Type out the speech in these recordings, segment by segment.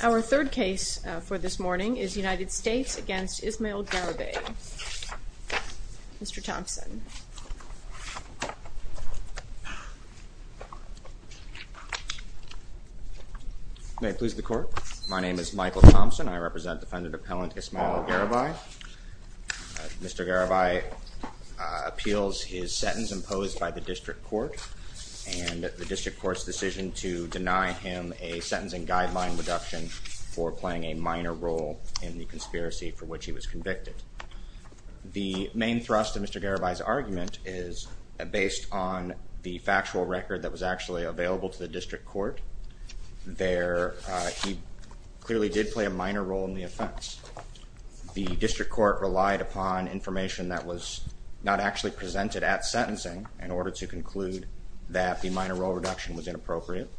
Our third case for this morning is United States v. Ismael Garibay. Mr. Thompson. May it please the court. My name is Michael Thompson. I represent defendant appellant Ismael Garibay. Mr. Garibay appeals his sentence imposed by the district court and the district court's decision to deny him a sentencing guideline reduction for playing a minor role in the conspiracy for which he was convicted. The main thrust of Mr. Garibay's argument is based on the factual record that was actually available to the district court. There he clearly did play a minor role in the not actually presented at sentencing in order to conclude that the minor role reduction was inappropriate.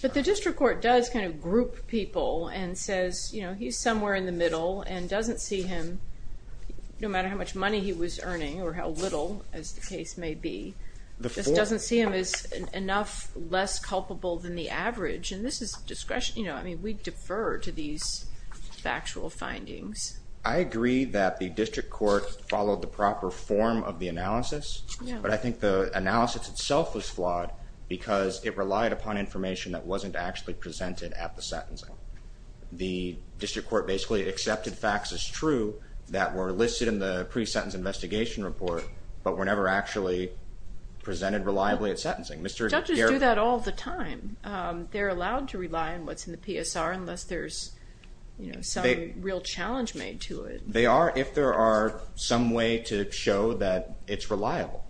But the district court does kind of group people and says you know he's somewhere in the middle and doesn't see him no matter how much money he was earning or how little as the case may be this doesn't see him as enough less culpable than the average and this is discretion you know I mean we defer to these factual findings. I agree that the proper form of the analysis but I think the analysis itself was flawed because it relied upon information that wasn't actually presented at the sentencing. The district court basically accepted facts as true that were listed in the pre-sentence investigation report but were never actually presented reliably at sentencing. Doctors do that all the time. They're allowed to rely on what's in the PSR unless there's you know some real challenge made to it. They are if there are some way to show that it's reliable.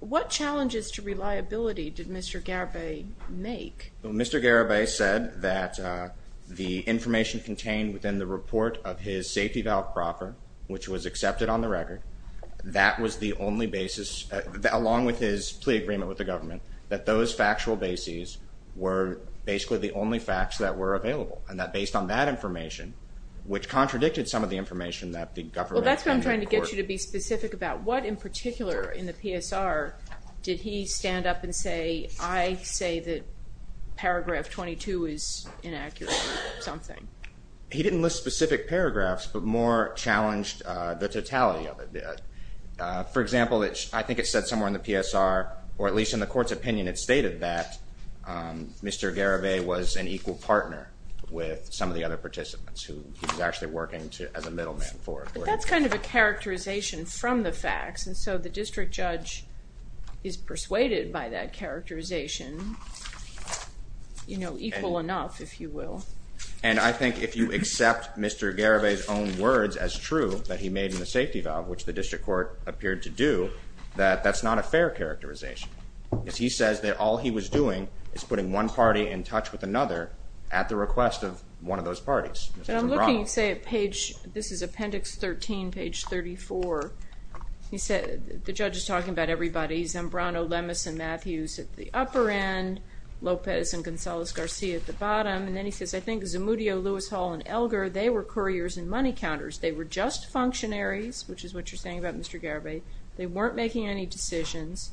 What challenges to reliability did Mr. Garibay make? Mr. Garibay said that the information contained within the report of his safety valve proffer which was accepted on the record that was the only basis that along with his plea agreement with the government that those factual bases were basically the only facts that were contradicted some of the information that the government. Well that's what I'm trying to get you to be specific about. What in particular in the PSR did he stand up and say I say that paragraph 22 is inaccurate or something? He didn't list specific paragraphs but more challenged the totality of it. For example, I think it said somewhere in the PSR or at least in the court's opinion it stated that Mr. Garibay was an equal partner with some of the other participants who he was actually working to as a middleman for. But that's kind of a characterization from the facts and so the district judge is persuaded by that characterization you know equal enough if you will. And I think if you accept Mr. Garibay's own words as true that he made in the safety valve which the district court appeared to do that that's not a fair characterization. If he says that all he was doing is putting one party in touch with another at the request of one of those parties. And I'm looking say at page this is appendix 13 page 34 he said the judge is talking about everybody Zambrano, Lemus and Matthews at the upper end, Lopez and Gonzalez-Garcia at the bottom and then he says I think Zamudio, Lewis Hall and Elgar they were couriers and money counters. They were just functionaries which is what you're saying about Mr. Garibay. They weren't making any decisions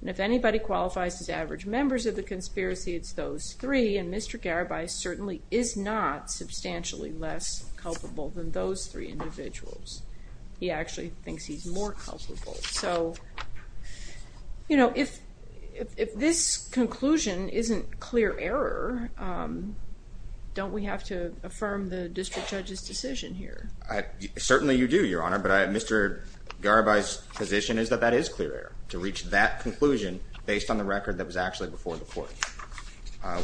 and if anybody qualifies as Mr. Garibay certainly is not substantially less culpable than those three individuals. He actually thinks he's more culpable. So you know if if this conclusion isn't clear error don't we have to affirm the district judge's decision here? Certainly you do your honor but I Mr. Garibay's position is that that is clear error to reach that conclusion based on the record that was actually before the court.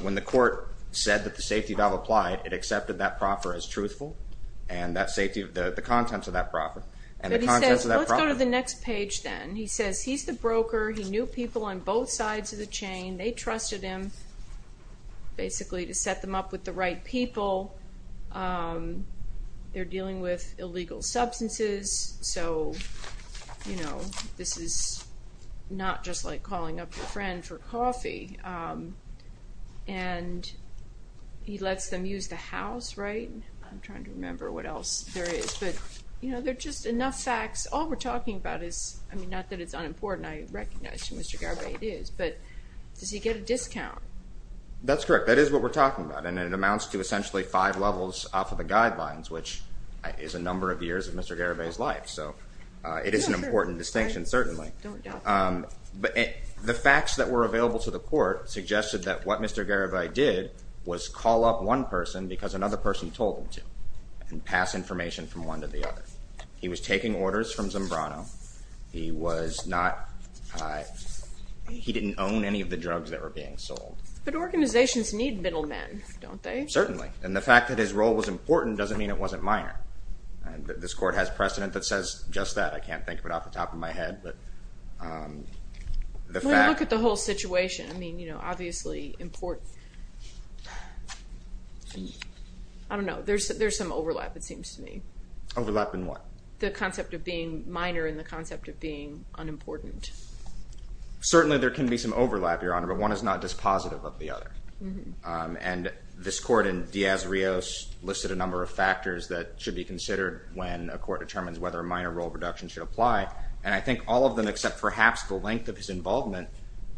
When the court said that the safety valve applied it accepted that proffer as truthful and that safety of the the contents of that proffer. Let's go to the next page then. He says he's the broker he knew people on both sides of the chain. They trusted him basically to set them up with the right people. They're dealing with illegal substances so you know this is not just like calling up your friend for coffee and he lets them use the house right? I'm trying to remember what else there is but you know they're just enough facts all we're talking about is I mean not that it's unimportant I recognize Mr. Garibay it is but does he get a discount? That's correct that is what we're talking about and it amounts to essentially five levels off of the guidelines which is a number of years of Mr. Garibay's life so it is an important distinction certainly but the facts that were available to the court suggested that what Mr. Garibay did was call up one person because another person told him to and pass information from one to the other. He was taking orders from Zambrano he was not he didn't own any of the drugs that were being sold. But organizations need middlemen don't they? Certainly and the fact that his role was important doesn't mean it wasn't minor and this court has precedent that says just that I can't think of it off the top of my head but look at the whole situation I mean you know obviously important I don't know there's there's some overlap it seems to me. Overlap in what? The concept of being minor in the concept of being unimportant. Certainly there can be some overlap your honor but one is not dispositive of the other and this court in Diaz-Rios listed a number of factors that should be considered when a court determines whether a minor role reduction should apply and I think all of them except perhaps the length of his involvement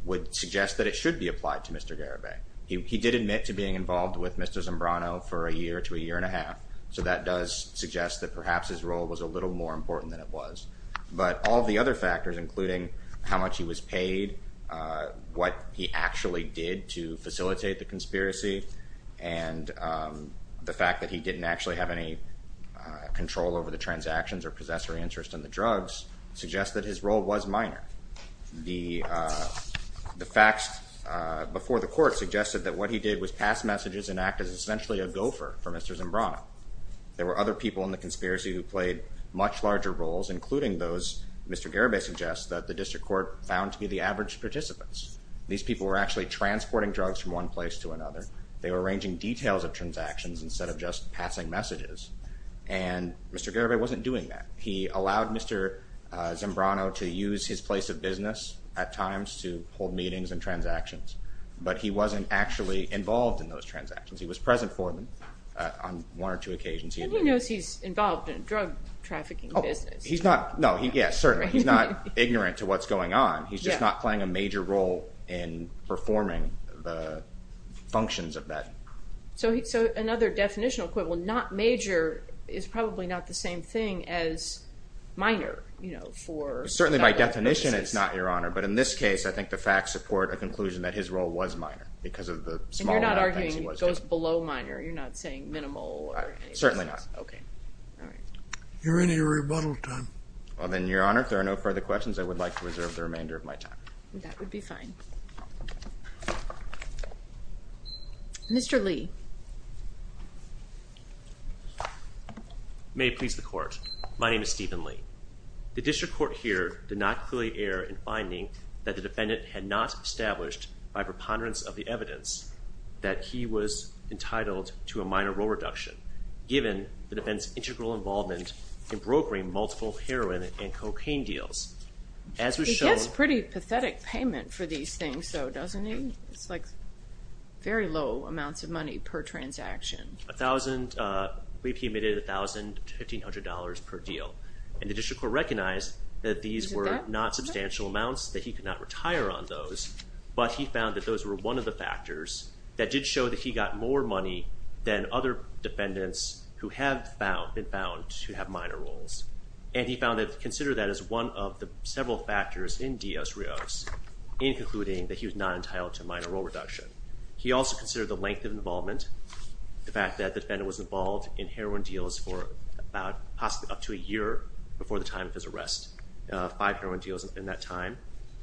would suggest that it should be applied to Mr. Garibay. He did admit to being involved with Mr. Zambrano for a year to a year and a half so that does suggest that perhaps his role was a little more important than it was. But all the other factors including how much he was paid what he actually did to facilitate the conspiracy and the didn't actually have any control over the transactions or possessor interest in the drugs suggest that his role was minor. The facts before the court suggested that what he did was pass messages and act as essentially a gopher for Mr. Zambrano. There were other people in the conspiracy who played much larger roles including those Mr. Garibay suggests that the district court found to be the average participants. These people were actually transporting drugs from one place to another. They were arranging details of transactions instead of just passing messages and Mr. Garibay wasn't doing that. He allowed Mr. Zambrano to use his place of business at times to hold meetings and transactions but he wasn't actually involved in those transactions. He was present for them on one or two occasions. And he knows he's involved in drug trafficking business. He's not, no, yes certainly he's not ignorant to what's going on. He's just not playing a major role in performing the functions of that. So another definitional equivalent, not major, is probably not the same thing as minor, you know, for... Certainly by definition it's not, Your Honor, but in this case I think the facts support a conclusion that his role was minor because of the small amount of things he was doing. And you're not arguing it goes below minor? You're not saying minimal? Certainly not. Okay. You're in a rebuttal time. Well then, Your Honor, if there are no further questions I would like to reserve the remainder of my time. That Mr. Lee. May it please the Court. My name is Stephen Lee. The district court here did not clearly err in finding that the defendant had not established by preponderance of the evidence that he was entitled to a minor role reduction given the defense's integral involvement in brokering multiple heroin and cocaine deals. He gets pretty pathetic payment for these things though, doesn't he? It's like very low amounts of money per transaction. A thousand, I believe he made it a thousand to fifteen hundred dollars per deal. And the district court recognized that these were not substantial amounts, that he could not retire on those, but he found that those were one of the factors that did show that he got more money than other defendants who have been found to have minor roles. And he found that, consider that as one of the several factors in Dios Rios in concluding that he was not entitled to minor role reduction. He also considered the length of involvement, the fact that the defendant was involved in heroin deals for about possibly up to a year before the time of his arrest. Five heroin deals in that time.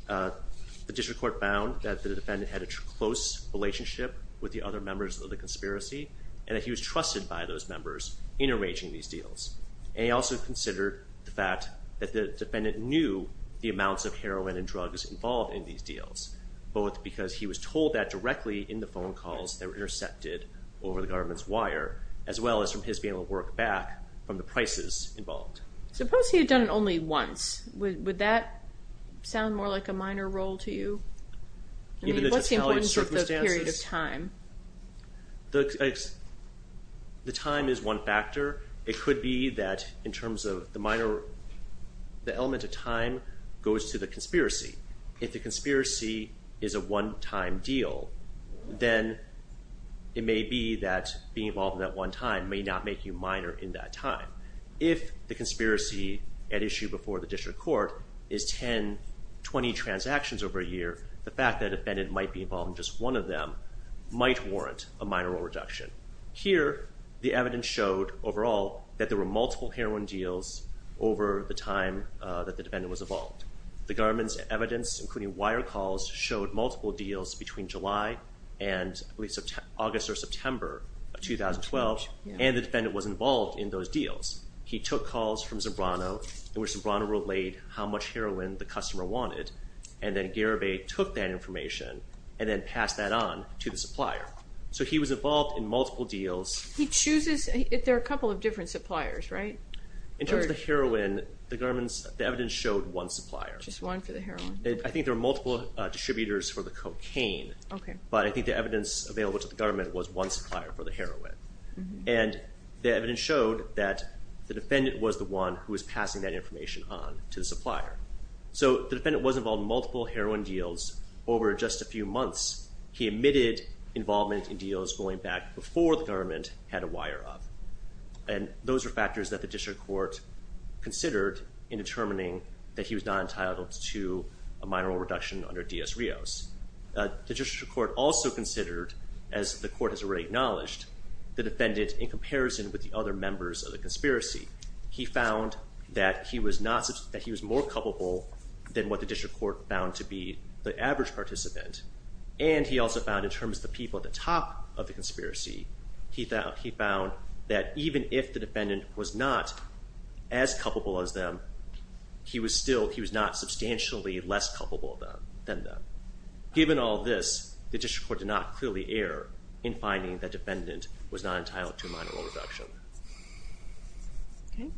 The district court found that the defendant had a close relationship with the other members of the conspiracy and that he was trusted by those members in arranging these deals. And he also considered the fact that the defendant knew the amounts of heroin and drugs involved in these deals. Both because he was told that directly in the phone calls that were intercepted over the government's wire, as well as from his being able to work back from the prices involved. Suppose he had done it only once. Would that sound more like a minor role to you? What's the importance of the period of time? The time is one factor. It could be that in terms of the minor, the element of time goes to the conspiracy. If the conspiracy is a one-time deal, then it may be that being involved in that one time may not make you minor in that time. If the conspiracy at issue before the district court is 10-20 transactions over a year, the fact that a defendant might be involved in just one of them might warrant a minor role reduction. Here, the evidence showed overall that there were multiple heroin deals over the time that the evidence, including wire calls, showed multiple deals between July and August or September of 2012. And the defendant was involved in those deals. He took calls from Zambrano, in which Zambrano relayed how much heroin the customer wanted. And then Garibay took that information and then passed that on to the supplier. So he was involved in multiple deals. He chooses, there are a couple of different suppliers, right? In terms of the heroin, the evidence showed one supplier. Just one supplier for the heroin. I think there are multiple distributors for the cocaine. Okay. But I think the evidence available to the government was one supplier for the heroin. And the evidence showed that the defendant was the one who was passing that information on to the supplier. So the defendant was involved in multiple heroin deals over just a few months. He omitted involvement in deals going back before the government had a wire up. And those are factors that the district court considered in determining that he was not entitled to a minor reduction under D.S. Rios. The district court also considered, as the court has already acknowledged, the defendant in comparison with the other members of the conspiracy. He found that he was more culpable than what the district court found to be the average participant. And he also found in terms of the people at the top of the conspiracy, he found that even if the defendant was not as culpable as them, he was still, he was not substantially less culpable than them. Given all this, the district court did not clearly err in finding that defendant was not entitled to a minor reduction. Okay.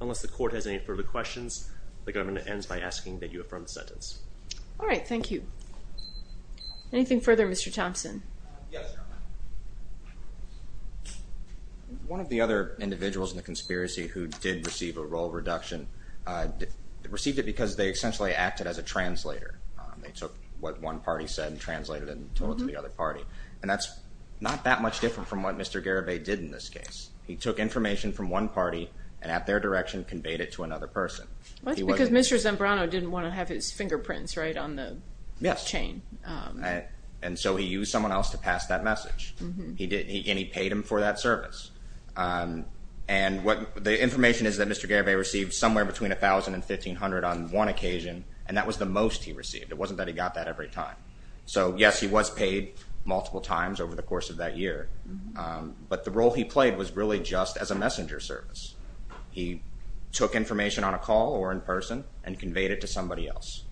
Unless the court has any further questions, the government ends by asking that you affirm the sentence. All right, thank you. Anything further, Mr. Thompson? One of the other individuals in the conspiracy who did receive a role reduction, received it because they essentially acted as a translator. They took what one party said and translated it and told it to the other party. And that's not that much different from what Mr. Garibay did in this case. He took information from one party and at their direction conveyed it to another person. That's because Mr. Zambrano didn't want to have his fingerprints right on the chain. And so he used someone else to pass that message. He did, and he paid him for that service. And what the information is that Mr. Garibay received somewhere between $1,000 and $1,500 on one occasion, and that was the most he received. It wasn't that he got that every time. So yes, he was paid multiple times over the course of that year. But the role he played was really just as a messenger service. He took information on a call or in person and conveyed it to somebody else.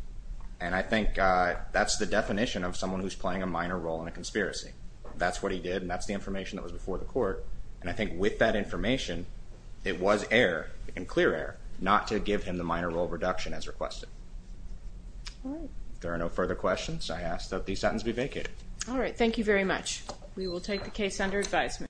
And I think that's the definition of someone who's playing a minor role in a conspiracy. That's what he did, and that's the court. And I think with that information it was air and clear air not to give him the minor role reduction as requested. There are no further questions. I asked that the sentence be vacated. All right. Thank you very much. We will take the case under advisement.